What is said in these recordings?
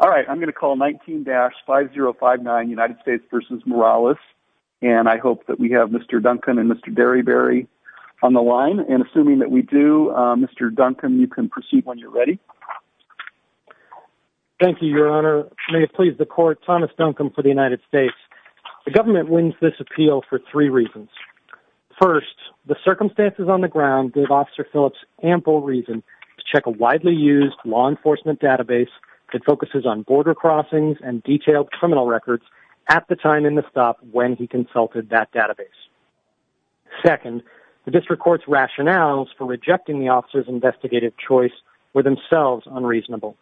All right, I'm going to call 19-5059 United States v. Morales, and I hope that we have Mr. Duncan and Mr. Derryberry on the line, and assuming that we do, Mr. Duncan, you can proceed when you're ready. Thank you, Your Honor. May it please the Court, Thomas Duncan for the United States. The government wins this appeal for three reasons. First, the circumstances on the ground give Officer Phillips ample reason to check a widely used law enforcement database that focuses on border crossings and detailed criminal records at the time in the stop when he consulted that database. Second, the district court's rationales for rejecting the officer's investigative choice were themselves unreasonable.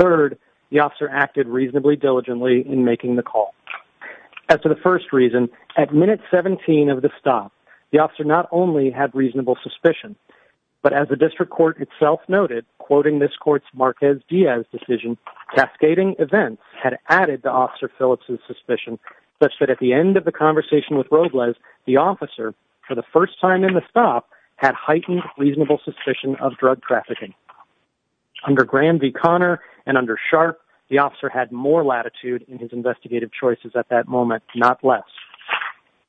Third, the officer acted reasonably diligently in making the call. As to the first reason, at minute 17 of the stop, the officer not only had reasonable suspicion, but as the district court itself noted, quoting this court's Marquez-Diaz decision, cascading events had added to Officer Phillips' suspicion such that at the end of the conversation with Robles, the officer, for the first time in the stop, had heightened reasonable suspicion of drug trafficking. Under Grand v. Connor and under Sharp, the officer had more latitude in his investigative choices at that moment, not less.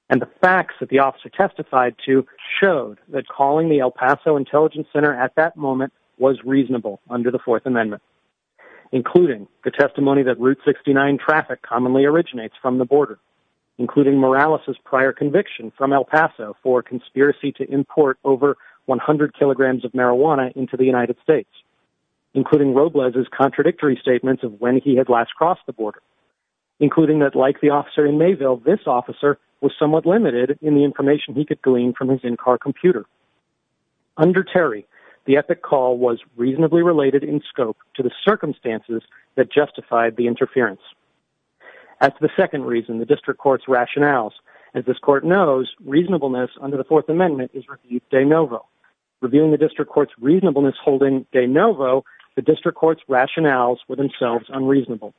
And the facts that the officer testified to showed that calling the El Paso Intelligence Center at that moment was reasonable under the Fourth Amendment, including the testimony that Route 69 traffic commonly originates from the border, including Morales' prior conviction from El Paso for conspiracy to import over 100 kilograms of marijuana into the United States, including Robles' contradictory statement of when he had last crossed the border, the officer was somewhat limited in the information he could glean from his in-car computer. Under Terry, the epic call was reasonably related in scope to the circumstances that justified the interference. As to the second reason, the district court's rationales, as this court knows, reasonableness under the Fourth Amendment is reviewed de novo. Reviewing the district court's reasonableness holding de novo, the district court's rationales were themselves unreasonable.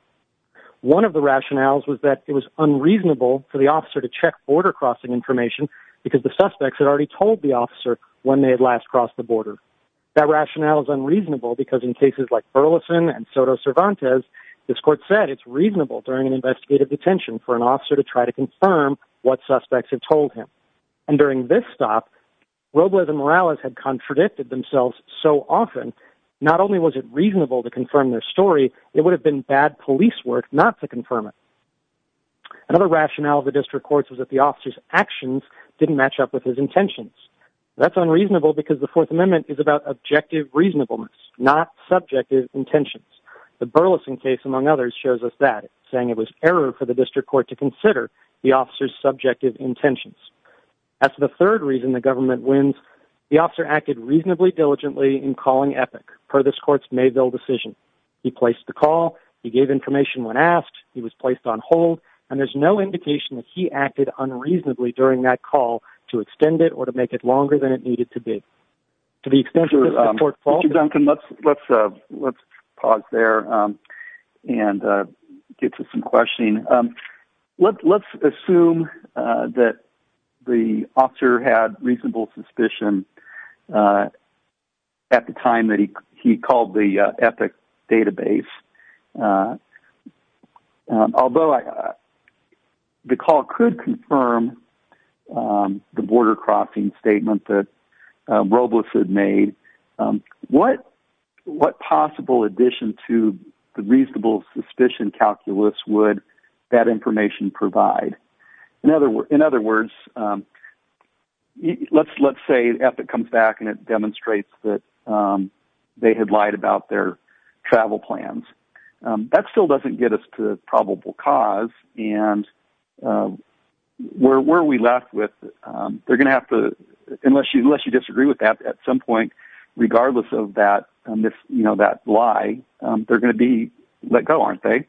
One of the rationales was that it was unreasonable for the officer to check border crossing information because the suspects had already told the officer when they had last crossed the border. That rationale is unreasonable because in cases like Burleson and Soto Cervantes, this court said it's reasonable during an investigative detention for an officer to try to confirm what suspects had told him. And during this stop, Robles and Morales had contradicted themselves so often, not only was it reasonable to confirm their story, it would have been bad police work not to confirm it. Another rationale of the district court was that the officer's actions didn't match up with his intentions. That's unreasonable because the Fourth Amendment is about objective reasonableness, not subjective intentions. The Burleson case, among others, shows us that, saying it was error for the district court to consider the officer's subjective intentions. As to the third reason the government wins, the officer acted reasonably diligently in the district court's Mayville decision. He placed the call, he gave information when asked, he was placed on hold, and there's no indication that he acted unreasonably during that call to extend it or to make it longer than it needed to be. To the extent that the court falls... Mr. Duncan, let's pause there and get to some questioning. Let's assume that the officer had reasonable suspicion at the time that he called the EPIC database. Although the call could confirm the border-crossing statement that Robles had made, what possible addition to the reasonable suspicion calculus would that information provide? In other words, let's say EPIC comes back and it demonstrates that they had lied about their travel plans. That still doesn't get us to probable cause, and where are we left with... Unless you disagree with that at some point, regardless of that lie, they're going to be let go, aren't they?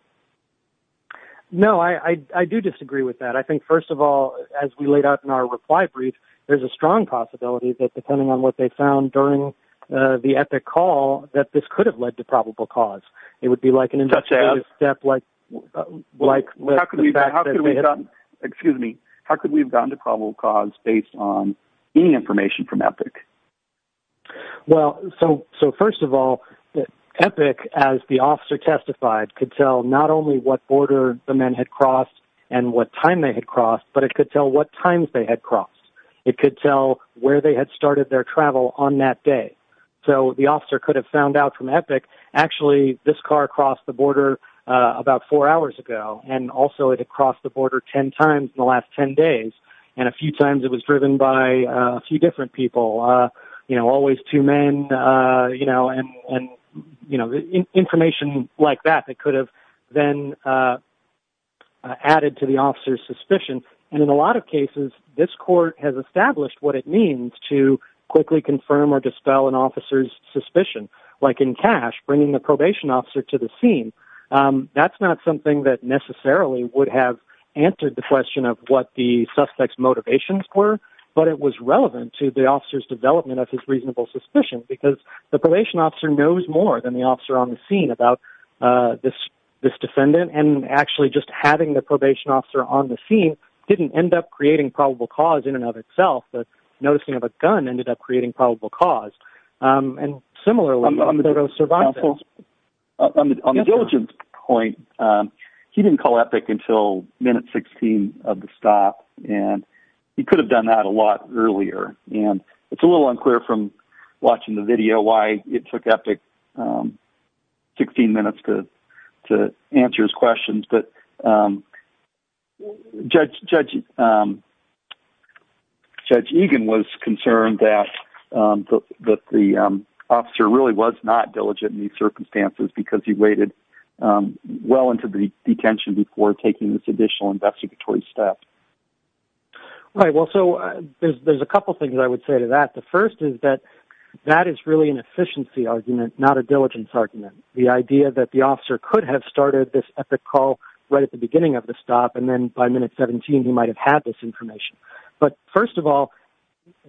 No, I do disagree with that. I think, first of all, as we laid out in our reply brief, there's a strong possibility that depending on what they found during the EPIC call, that this could have led to probable cause. It would be like an investigative step like the fact that they had... Well, so first of all, EPIC, as the officer testified, could tell not only what border the men had crossed and what time they had crossed, but it could tell what times they had crossed. It could tell where they had started their travel on that day. So the officer could have found out from EPIC, actually, this car crossed the border about four hours ago, and also it had crossed the border 10 times in the last 10 days, and a was driven by a few different people, always two men, and information like that that could have then added to the officer's suspicion. And in a lot of cases, this court has established what it means to quickly confirm or dispel an officer's suspicion, like in Cash, bringing the probation officer to the scene. That's not something that necessarily would have answered the question of what the suspect's color, but it was relevant to the officer's development of his reasonable suspicion, because the probation officer knows more than the officer on the scene about this defendant, and actually just having the probation officer on the scene didn't end up creating probable cause in and of itself, but noticing of a gun ended up creating probable cause. And similarly, on the third of survival... On the diligence point, he didn't call EPIC until minute 16 of the stop, and he could have done that a lot earlier, and it's a little unclear from watching the video why it took EPIC 16 minutes to answer his questions, but Judge Egan was concerned that the officer really was not diligent in these circumstances, because he waited well into the detention before taking this additional investigatory step. Right. Well, so there's a couple things I would say to that. The first is that that is really an efficiency argument, not a diligence argument. The idea that the officer could have started this EPIC call right at the beginning of the stop, and then by minute 17, he might have had this information. But first of all,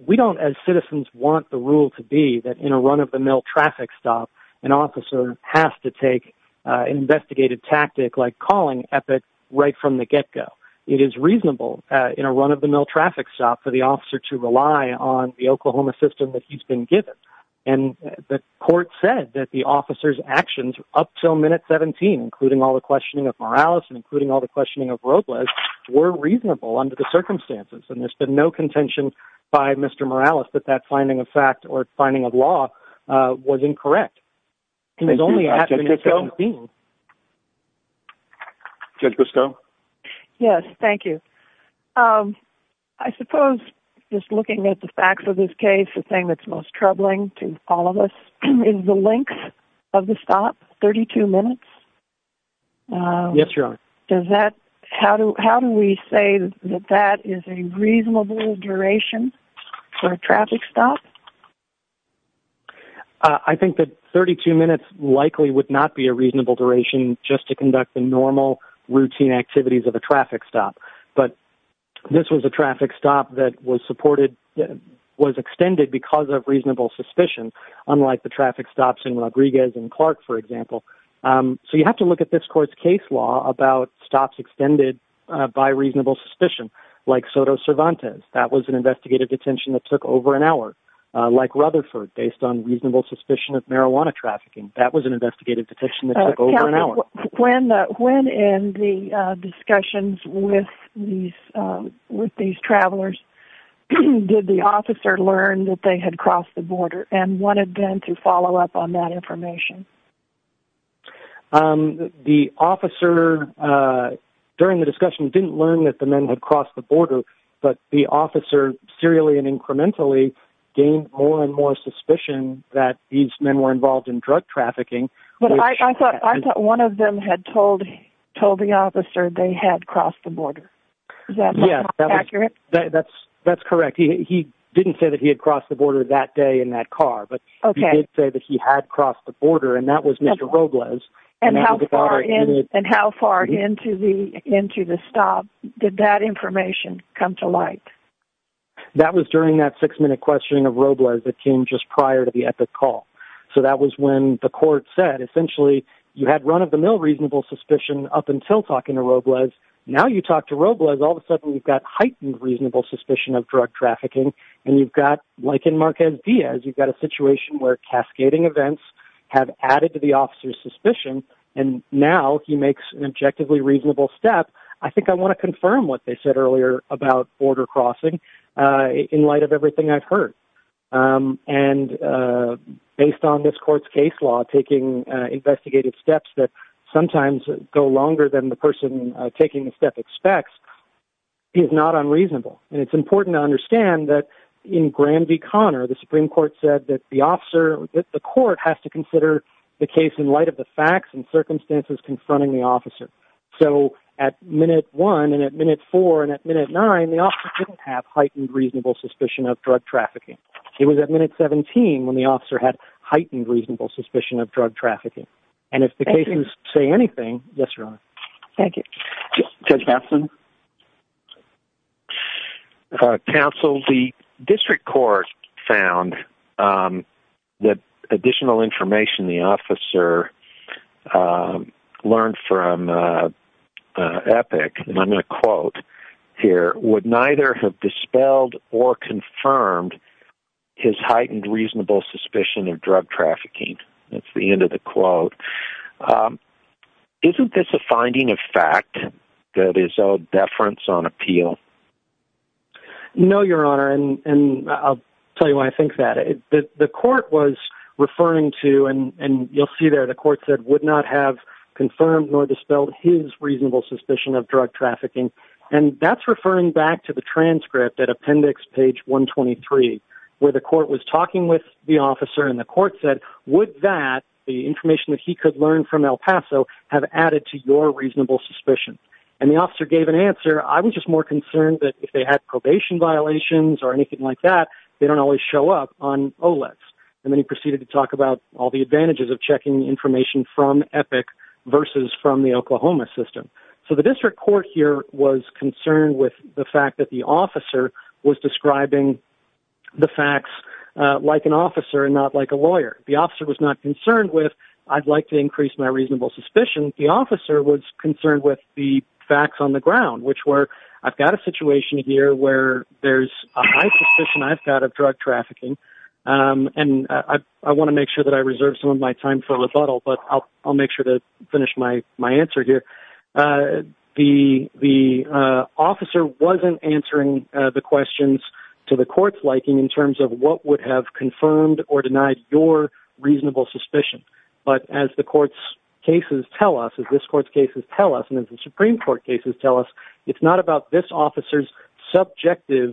we don't, as citizens, want the rule to be that in a run-of-the-mill traffic stop, an officer has to take an investigative tactic like calling EPIC right from the get-go. It is reasonable in a run-of-the-mill traffic stop for the officer to rely on the Oklahoma system that he's been given. And the court said that the officer's actions up till minute 17, including all the questioning of Morales and including all the questioning of Robles, were reasonable under the circumstances, and there's been no contention by Mr. Morales that that finding of fact or finding of law was incorrect. Thank you, Judge Gusteau. And it was only after minute 17. Judge Gusteau? Yes. Thank you. I suppose, just looking at the facts of this case, the thing that's most troubling to all of us is the length of the stop, 32 minutes. Yes, Your Honor. Does that... How do we say that that is a reasonable duration for a traffic stop? I think that 32 minutes likely would not be a reasonable duration just to conduct the routine activities of a traffic stop. But this was a traffic stop that was extended because of reasonable suspicion, unlike the traffic stops in Rodriguez and Clark, for example. So you have to look at this court's case law about stops extended by reasonable suspicion, like Soto Cervantes. That was an investigative detention that took over an hour. Like Rutherford, based on reasonable suspicion of marijuana trafficking. That was an investigative detention that took over an hour. When in the discussions with these travelers, did the officer learn that they had crossed the border and wanted them to follow up on that information? The officer, during the discussion, didn't learn that the men had crossed the border, but the officer serially and incrementally gained more and more suspicion that these men were involved in drug trafficking. I thought one of them had told the officer they had crossed the border. Is that not accurate? That's correct. He didn't say that he had crossed the border that day in that car, but he did say that he had crossed the border, and that was Mr. Robles. And how far into the stop did that information come to light? That was during that six-minute questioning of Robles that came just prior to the epic call. So that was when the court said, essentially, you had run-of-the-mill reasonable suspicion up until talking to Robles. Now you talk to Robles, all of a sudden you've got heightened reasonable suspicion of drug trafficking, and you've got, like in Marquez Diaz, you've got a situation where cascading events have added to the officer's suspicion, and now he makes an objectively reasonable step. I think I want to confirm what they said earlier about border crossing in light of everything I've heard. And based on this court's case law, taking investigative steps that sometimes go longer than the person taking the step expects is not unreasonable. And it's important to understand that in Granby-Connor, the Supreme Court said that the court has to consider the case in light of the facts and circumstances confronting the officer. So at minute one and at minute four and at minute nine, the officer didn't have heightened reasonable suspicion of drug trafficking. It was at minute 17 when the officer had heightened reasonable suspicion of drug trafficking. And if the cases say anything, yes, Your Honor. Thank you. Judge Matson? Counsel, the district court found that additional information the officer learned from Epic, and I'm going to quote here, would neither have dispelled or confirmed his heightened reasonable suspicion of drug trafficking. That's the end of the quote. Isn't this a finding of fact that is of deference on appeal? No, Your Honor, and I'll tell you why I think that. The court was referring to, and you'll see there, the court said would not have confirmed nor dispelled his reasonable suspicion of drug trafficking. And that's referring back to the transcript at appendix page 123, where the court was talking with the officer, and the court said, would that, the information that he could learn from El Paso, have added to your reasonable suspicion? And the officer gave an answer, I'm just more concerned that if they had probation violations or anything like that, they don't always show up on OLEPs. And then he proceeded to talk about all the advantages of checking information from Epic versus from the Oklahoma system. So the district court here was concerned with the fact that the officer was describing the facts like an officer and not like a lawyer. The officer was not concerned with, I'd like to increase my reasonable suspicion. The officer was concerned with the facts on the ground, which were, I've got a situation here where there's a high suspicion I've got of drug trafficking, and I want to make sure that I reserve some of my time for rebuttal, but I'll make sure to finish my answer here. The officer wasn't answering the questions to the court's liking in terms of what would have confirmed or denied your reasonable suspicion. But as the court's cases tell us, as this court's cases tell us, and as the Supreme Court cases tell us, it's not about this officer's subjective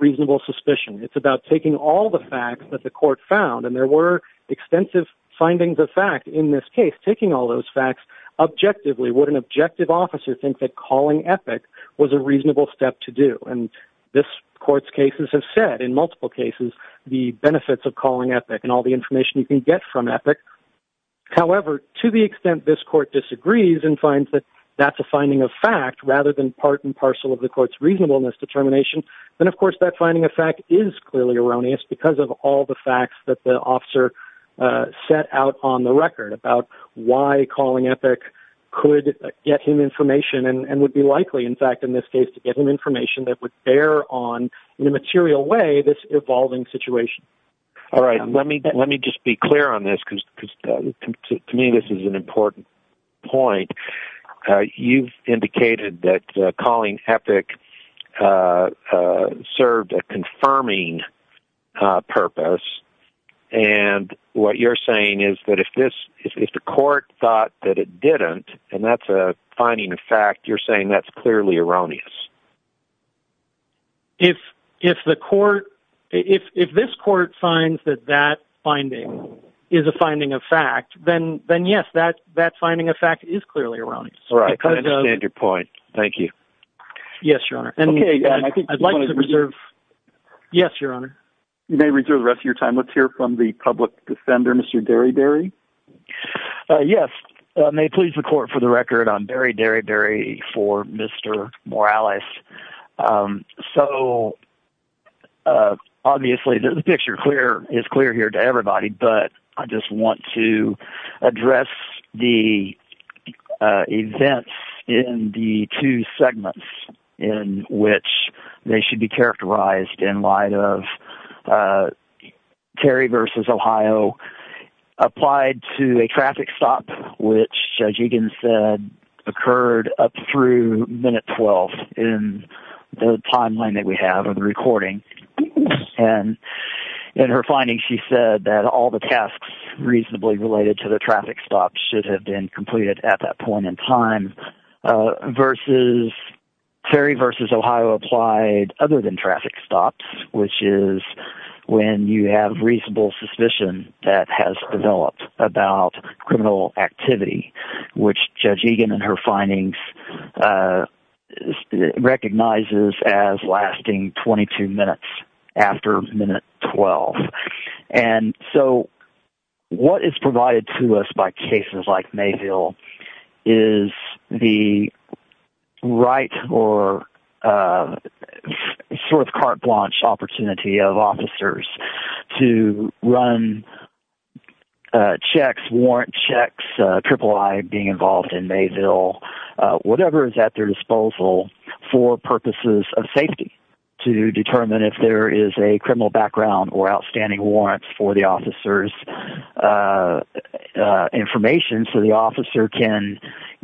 reasonable suspicion. It's about taking all the facts that the court found, and there were extensive findings of fact in this case, taking all those facts objectively. Would an objective officer think that calling Epic was a reasonable step to do? And this court's cases have said in multiple cases the benefits of calling Epic and all the information you can get from Epic. However, to the extent this court disagrees and finds that that's a finding of fact rather than part and parcel of the court's reasonableness determination, then of course that finding of fact is clearly erroneous because of all the facts that the officer set out on the record about why calling Epic could get him information and would be likely, in fact, in this case, to get him information that would bear on in a material way this evolving situation. All right. Let me just be clear on this, because to me this is an important point. You've indicated that calling Epic served a confirming purpose, and what you're saying is that if the court thought that it didn't, and that's a finding of fact, you're saying that's clearly erroneous. If this court finds that that finding is a finding of fact, then yes, that finding of fact is clearly erroneous. All right. I understand your point. Thank you. Yes, Your Honor. Okay. I'd like to reserve. Yes, Your Honor. You may reserve the rest of your time. Let's hear from the public defender, Mr. Deriberi. Yes. May it please the court, for the record, I'm Barry Deriberi for Mr. Morales. Obviously, the picture is clear here to everybody, but I just want to address the events in the two segments in which they should be characterized in light of Terry v. Ohio applied to a traffic stop, which Judge Egan said occurred up through minute 12 in the timeline that we have of the recording, and in her finding, she said that all the tasks reasonably related to the traffic stop should have been completed at that point in time, versus Terry v. Ohio applied other than traffic stops, which is when you have reasonable suspicion that has developed about criminal activity, which Judge Egan in her findings recognizes as lasting 22 minutes after minute 12. And so what is provided to us by cases like Mayville is the right or sort of carte blanche opportunity of officers to run checks, warrant checks, triple I being involved in Mayville, whatever is at their disposal for purposes of safety to determine if there is a criminal background or outstanding warrants for the officer's information so the officer can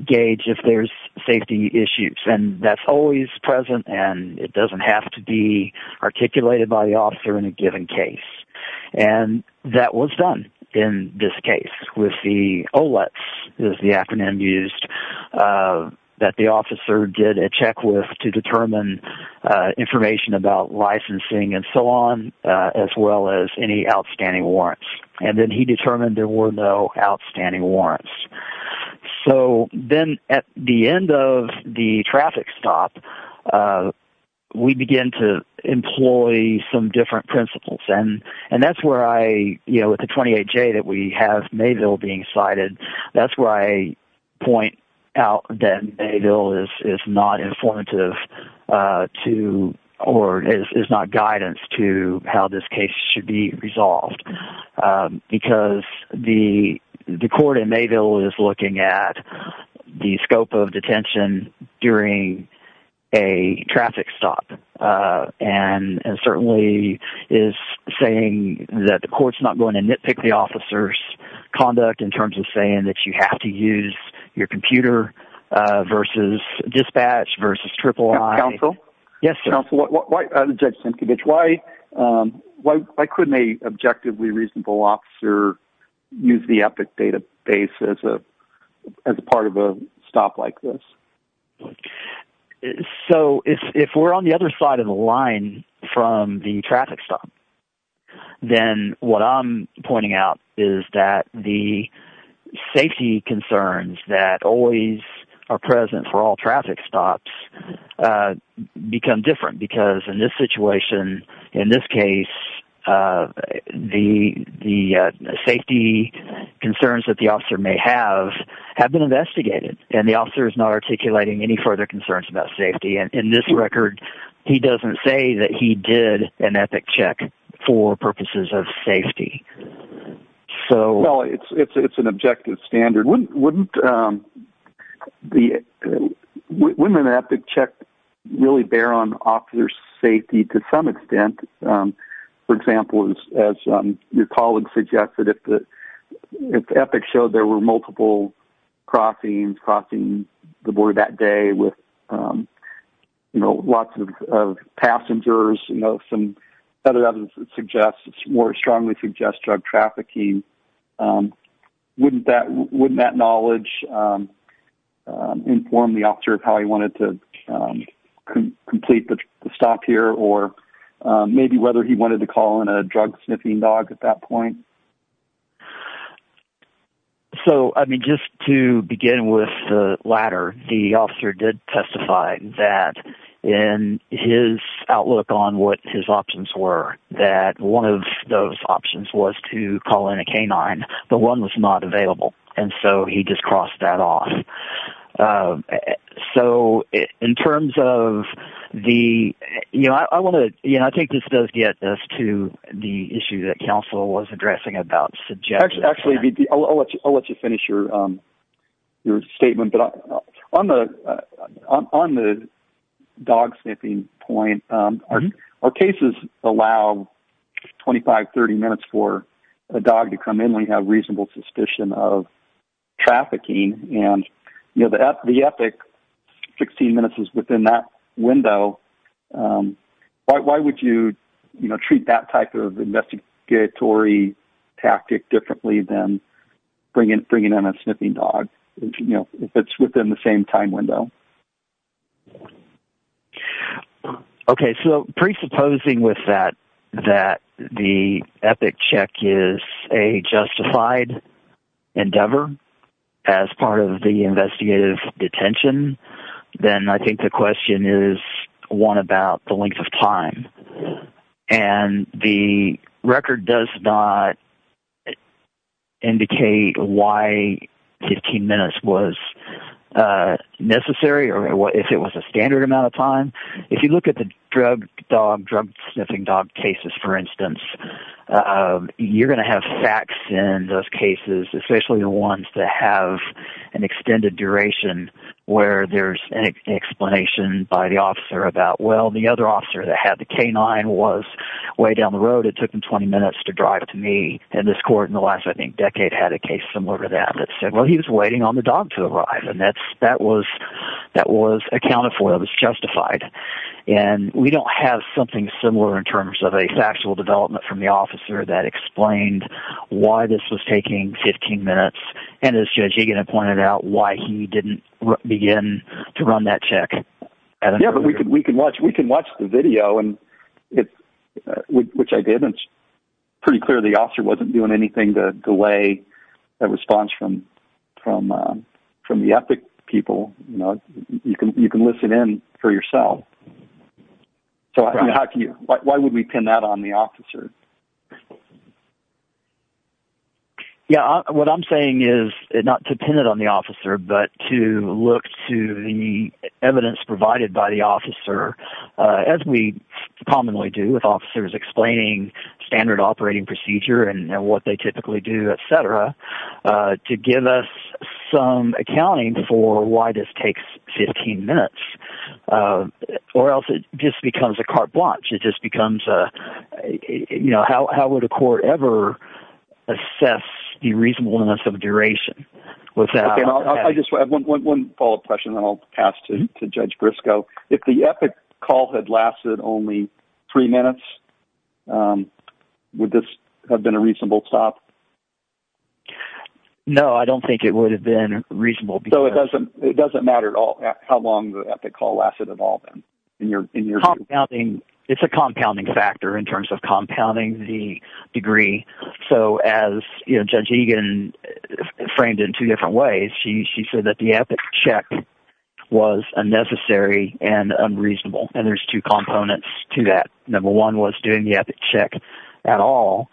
gauge if there's safety issues, and that's always present and it doesn't have to be articulated by the officer in a given case. And that was done in this case with the OLETs is the acronym used that the officer did a check with to determine information about licensing and so on, as well as any outstanding warrants. And then he determined there were no outstanding warrants. So then at the end of the traffic stop, we begin to employ some different principles and that's where I, you know, with the 28J that we have Mayville being cited, that's where I point out that Mayville is not informative to or is not guidance to how this case should be resolved because the court in Mayville is looking at the scope of detention during a traffic stop and certainly is saying that the court's not going to nitpick the officer's conduct in terms of saying that you have to use your computer versus dispatch versus triple I. Counsel? Yes, sir. Judge Sienkiewicz, why couldn't a objectively reasonable officer use the EPIC database as a part of a stop like this? So if we're on the other side of the line from the traffic stop, then what I'm pointing out is that the safety concerns that always are present for all traffic stops become different because in this situation, in this case, the safety concerns that the officer may have have been investigated and the officer is not articulating any further concerns about safety. And in this record, he doesn't say that he did an EPIC check for purposes of safety. Well, it's an objective standard. Wouldn't an EPIC check really bear on officer's safety to some extent? For example, as your colleague suggested, if EPIC showed there were multiple crossings crossing the border that day with, you know, lots of passengers, you know, some other evidence that suggests more strongly suggests drug trafficking, wouldn't that knowledge inform the officer of how he wanted to complete the stop here or maybe whether he wanted to call in a drug sniffing dog at that point? So, I mean, just to begin with the latter, the officer did testify that in his outlook on what his options were that one of those options was to call in a canine. The one was not available. And so he just crossed that off. So in terms of the, you know, I want to, you know, I think this does get us to the issue that counsel was addressing about suggestions. Actually, I'll let you finish your statement. But on the dog sniffing point, our cases allow 25, 30 minutes for a dog to come in when you have reasonable suspicion of trafficking. And, you know, the EPIC, 16 minutes is within that window. So why would you, you know, treat that type of investigatory tactic differently than bringing in a sniffing dog, you know, if it's within the same time window? Okay. So presupposing with that that the EPIC check is a justified endeavor as part of the investigative detention, then I think the question is one about the length of time. And the record does not indicate why 15 minutes was necessary or if it was a standard amount of time. If you look at the drug dog, drug sniffing dog cases, for instance, you're going to have facts in those cases, especially the ones that have an extended duration where there's an explanation by the officer about, well, the other officer that had the canine was way down the road. It took him 20 minutes to drive to me. And this court in the last, I think, decade had a case similar to that that said, well, he was waiting on the dog to arrive. And that was accounted for. It was justified. And we don't have something similar in terms of a factual development from the officer that explained why this was taking 15 minutes and, as Judge Egan had pointed out, why he didn't begin to run that check. Yeah, but we can watch the video, which I did, and it's pretty clear the officer wasn't doing anything to delay a response from the EPIC people. You can listen in for yourself. So why would we pin that on the officer? Yeah, what I'm saying is not to pin it on the officer, but to look to the evidence provided by the officer, as we commonly do with officers explaining standard operating procedure and what they typically do, et cetera, to give us some accounting for why this takes 15 minutes. Or else it just becomes a carte blanche. It just becomes a, you know, how would a court ever assess the reasonableness of duration? Okay, I just have one follow-up question, and then I'll pass to Judge Grisco. If the EPIC call had lasted only three minutes, would this have been a reasonable stop? No, I don't think it would have been reasonable. So it doesn't matter at all how long the EPIC call lasted at all then? It's a compounding factor in terms of compounding the degree. So as Judge Egan framed it in two different ways, she said that the EPIC check was unnecessary and unreasonable, and there's two components to that. Number one was doing the EPIC check at all,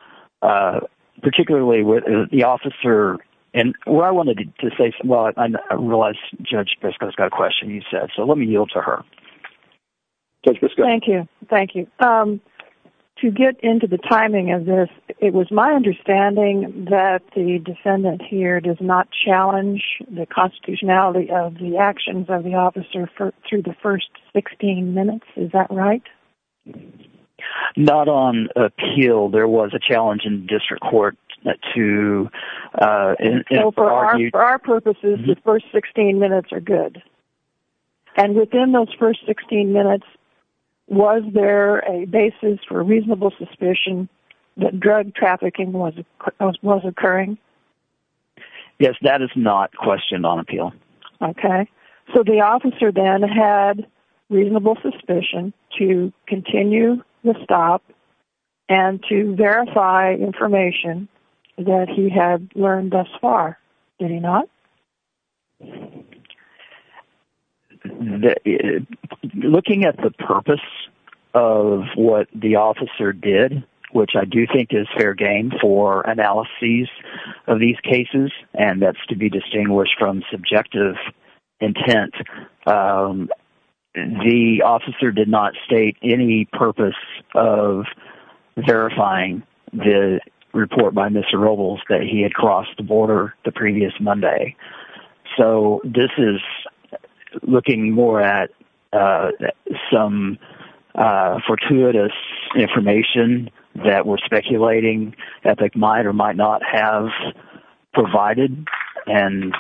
particularly with the officer. And what I wanted to say... Well, I realize Judge Grisco's got a question, you said, so let me yield to her. Judge Grisco. Thank you, thank you. To get into the timing of this, it was my understanding that the defendant here does not challenge the constitutionality of the actions of the officer through the first 16 minutes. Is that right? Not on appeal. There was a challenge in district court to... For our purposes, the first 16 minutes are good. And within those first 16 minutes, was there a basis for reasonable suspicion that drug trafficking was occurring? Yes, that is not questioned on appeal. Okay. So the officer then had reasonable suspicion to continue the stop and to verify information that he had learned thus far. Did he not? Looking at the purpose of what the officer did, which I do think is fair game for analyses of these cases, and that's to be distinguished from subjective intent, the officer did not state any purpose of verifying the report by Mr. Robles that he had crossed the border the previous Monday. So this is looking more at some fortuitous information that we're speculating Epic might or might not have provided. And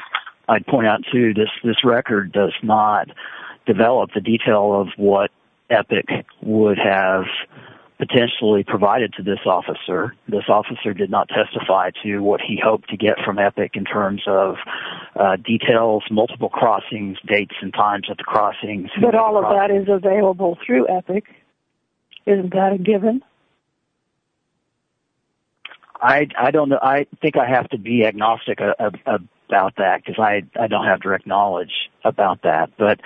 I'd point out, too, this record does not develop the detail of what Epic would have potentially provided to this officer. This officer did not testify to what he hoped to get from Epic in terms of details, multiple crossings, dates and times at the crossings. But all of that is available through Epic. Isn't that a given? I don't know. I think I have to be agnostic about that because I don't have direct knowledge about that. But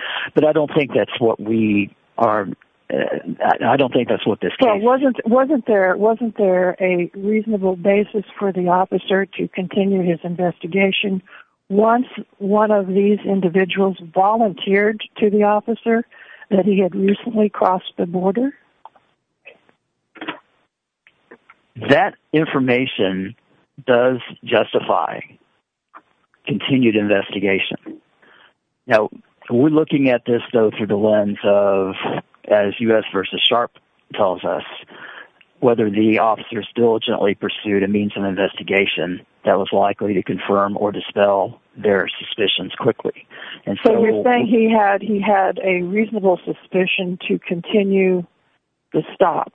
I don't think that's what we are... I don't think that's what this case... Wasn't there a reasonable basis for the officer to continue his investigation once one of these individuals volunteered to the officer that he had recently crossed the border? That information does justify continued investigation. Now, we're looking at this, though, through the lens of, as U.S. v. Sharpe tells us, whether the officers diligently pursued a means of investigation that was likely to confirm or dispel their suspicions quickly. So you're saying he had a reasonable suspicion to continue the stop.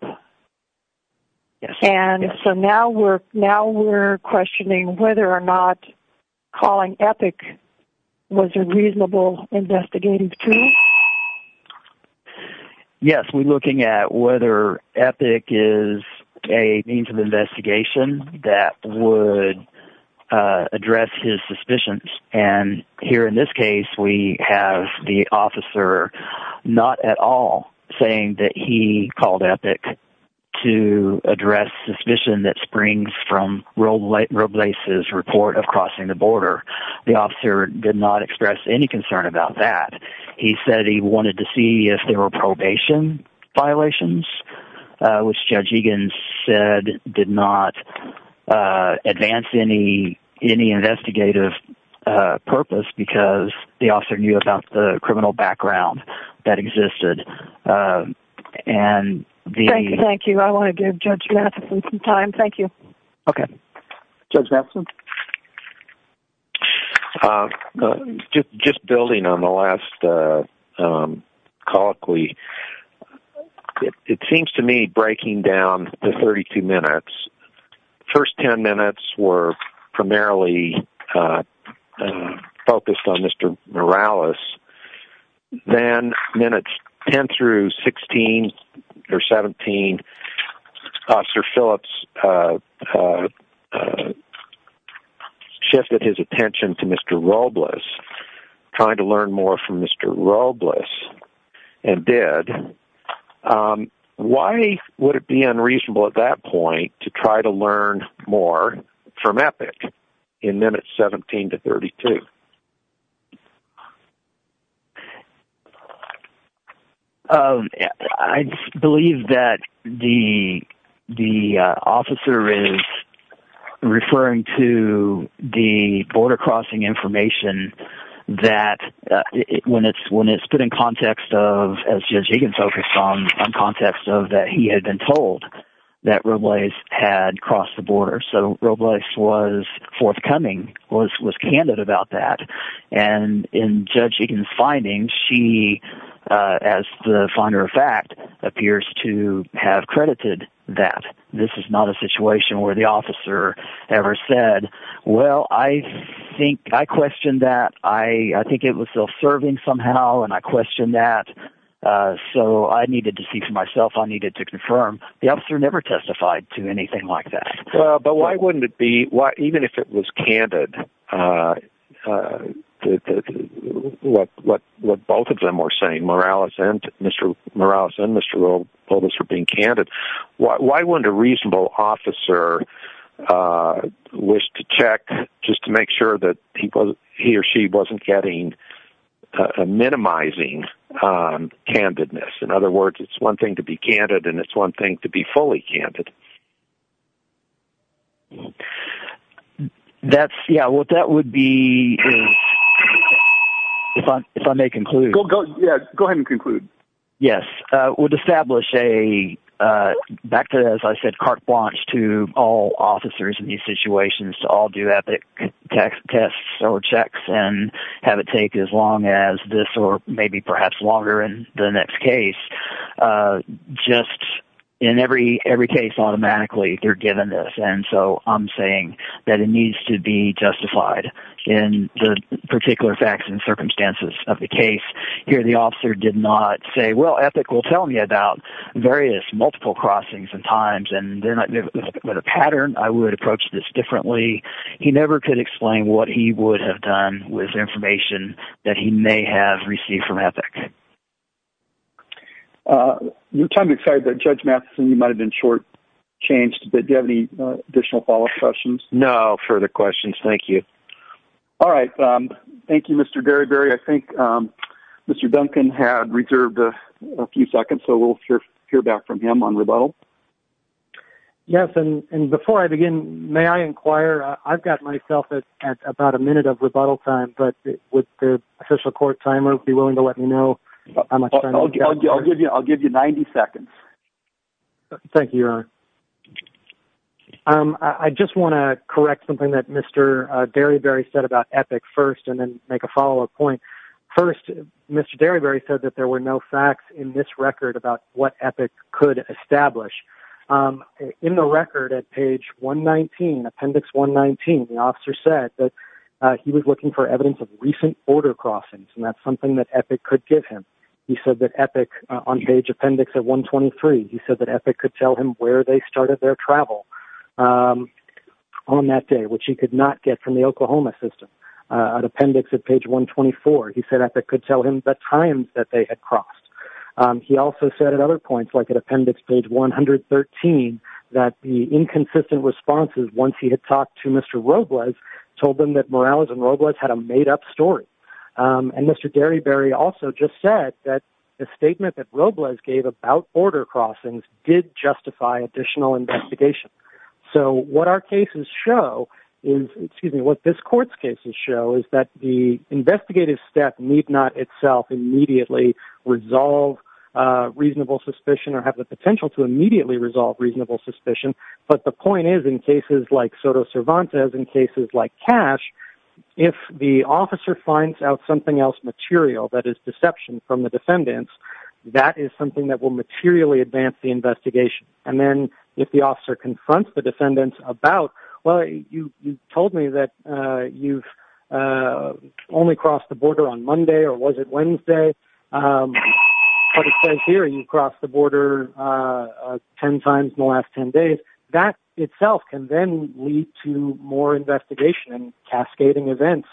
Yes. And so now we're questioning whether or not calling Epic was a reasonable investigative tool? Yes, we're looking at whether Epic is a means of investigation that would address his suspicions. And here in this case, we have the officer not at all saying that he called Epic to address suspicion that springs from Roblace's report of crossing the border. The officer did not express any concern about that. He said he wanted to see if there were probation violations, which Judge Egan said did not advance any investigative purpose because the officer knew about the criminal background that existed. And the... Thank you, thank you. I want to give Judge Matheson some time. Thank you. Okay. Judge Matheson? Uh, just building on the last call, it seems to me, breaking down the 32 minutes, the first 10 minutes were primarily, uh, focused on Mr. Morales. Then minutes 10 through 16 or 17, Officer Phillips, uh, uh, shifted his attention to Mr. Roblace, trying to learn more from Mr. Roblace, and did. Um, why would it be unreasonable at that point to try to learn more from Epic in minutes 17 to 32? Um, I believe that the... the, uh, officer is referring to the border-crossing information that, uh, when it's put in context of, as Judge Egan focused on, on context of that he had been told that Roblace had crossed the border. So Roblace was forthcoming, was candid about that. And in Judge Egan's findings, she, uh, as the finder of fact, appears to have credited that. This is not a situation where the officer ever said, well, I think... I questioned that. I think it was self-serving somehow, and I questioned that. Uh, so I needed to see for myself. I needed to confirm. The officer never testified to anything like that. Uh, but why wouldn't it be... Why, even if it was candid, uh, uh, what, what, what both of them were saying, Morales and Mr. Roblace for being candid, why wouldn't a reasonable officer, uh, wish to check just to make sure that he or she wasn't getting, uh, minimizing, um, candidness? In other words, it's one thing to be candid, and it's one thing to be fully candid. That's... Yeah, what that would be is... If I may conclude. Yeah, go ahead and conclude. Yes, uh, would establish a, uh, back to, as I said, carte blanche to all officers in these situations to all do ethic tests or checks and have it take as long as this or maybe perhaps longer in the next case. Uh, just in every, every case automatically they're given this, and so I'm saying that it needs to be justified in the particular facts and circumstances of the case. Here the officer did not say, well, ethic will tell me about various multiple crossings and times, and they're not... With a pattern, I would approach this differently. He never could explain what he would have done with information that he may have received from ethic. Uh, I'm excited that Judge Matheson, you might have been short-changed, but do you have any additional follow-up questions? No further questions. Thank you. All right. Um, thank you, Mr. Deriberi. I think, um, Mr. Duncan had reserved a few seconds, so we'll hear back from him on rebuttal. Yes, and before I begin, may I inquire? I've got myself at about a minute of rebuttal time, but would the official court timer be willing to let me know how much time... I'll give you 90 seconds. Thank you, Your Honor. Um, I just want to correct something that Mr. Deriberi said about ethic first and then make a follow-up point. First, Mr. Deriberi said that there were no facts in this record about what ethic could establish. Um, in the record at page 119, appendix 119, the officer said that, uh, he was looking for evidence of recent border crossings, and that's something that ethic could give him. He said that ethic, on page appendix at 123, he said that ethic could tell him where they started their travel, um, on that day, which he could not get from the Oklahoma system. Uh, at appendix at page 124, he said ethic could tell him the time that they had crossed. Um, he also said at other points, like at appendix page 113, that the inconsistent responses once he had talked to Mr. Robles told them that Morales and Robles had a made-up story. Um, and Mr. Derryberry also just said that the statement that Robles gave about border crossings did justify additional investigation. So what our cases show is, excuse me, what this court's cases show is that the investigative step need not itself immediately resolve, uh, reasonable suspicion or have the potential to immediately resolve reasonable suspicion, but the point is, in cases like Soto Cervantes and cases like Cash, if the officer finds out something else material that is deception from the defendants, that is something that will materially advance the investigation. And then, if the officer confronts the defendants about, well, you told me that, uh, you've, uh, only crossed the border on Monday or was it Wednesday? Um, but it says here you crossed the border, uh, 10 times in the last 10 days. That itself can then lead to more investigation and cascading events.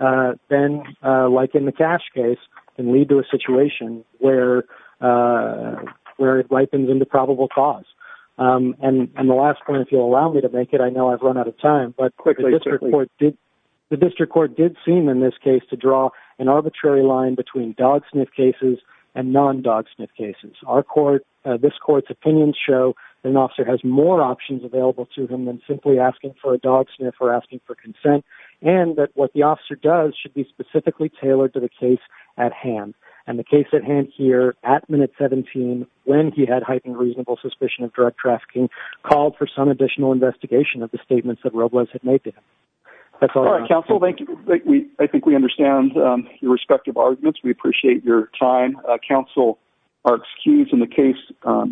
Uh, then, uh, like in the Cash case, can lead to a situation where, uh, where it ripens into probable cause. Um, and the last point, if you'll allow me to make it, I know I've run out of time, but the district court did seem in this case to draw an arbitrary line between dog sniff cases and non-dog sniff cases. Our court, uh, this court's opinions show that an officer has more options available to him than simply asking for a dog sniff or asking for consent and that what the officer does should be specifically tailored to the case at hand. And the case at hand here at minute 17, when he had heightened reasonable suspicion of drug trafficking, called for some additional investigation of the statements that Robles had made to him. That's all I have. All right, counsel, thank you. I think we understand your respective arguments. We appreciate your time. Uh, counsel, our excuse in the case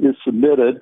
is submitted.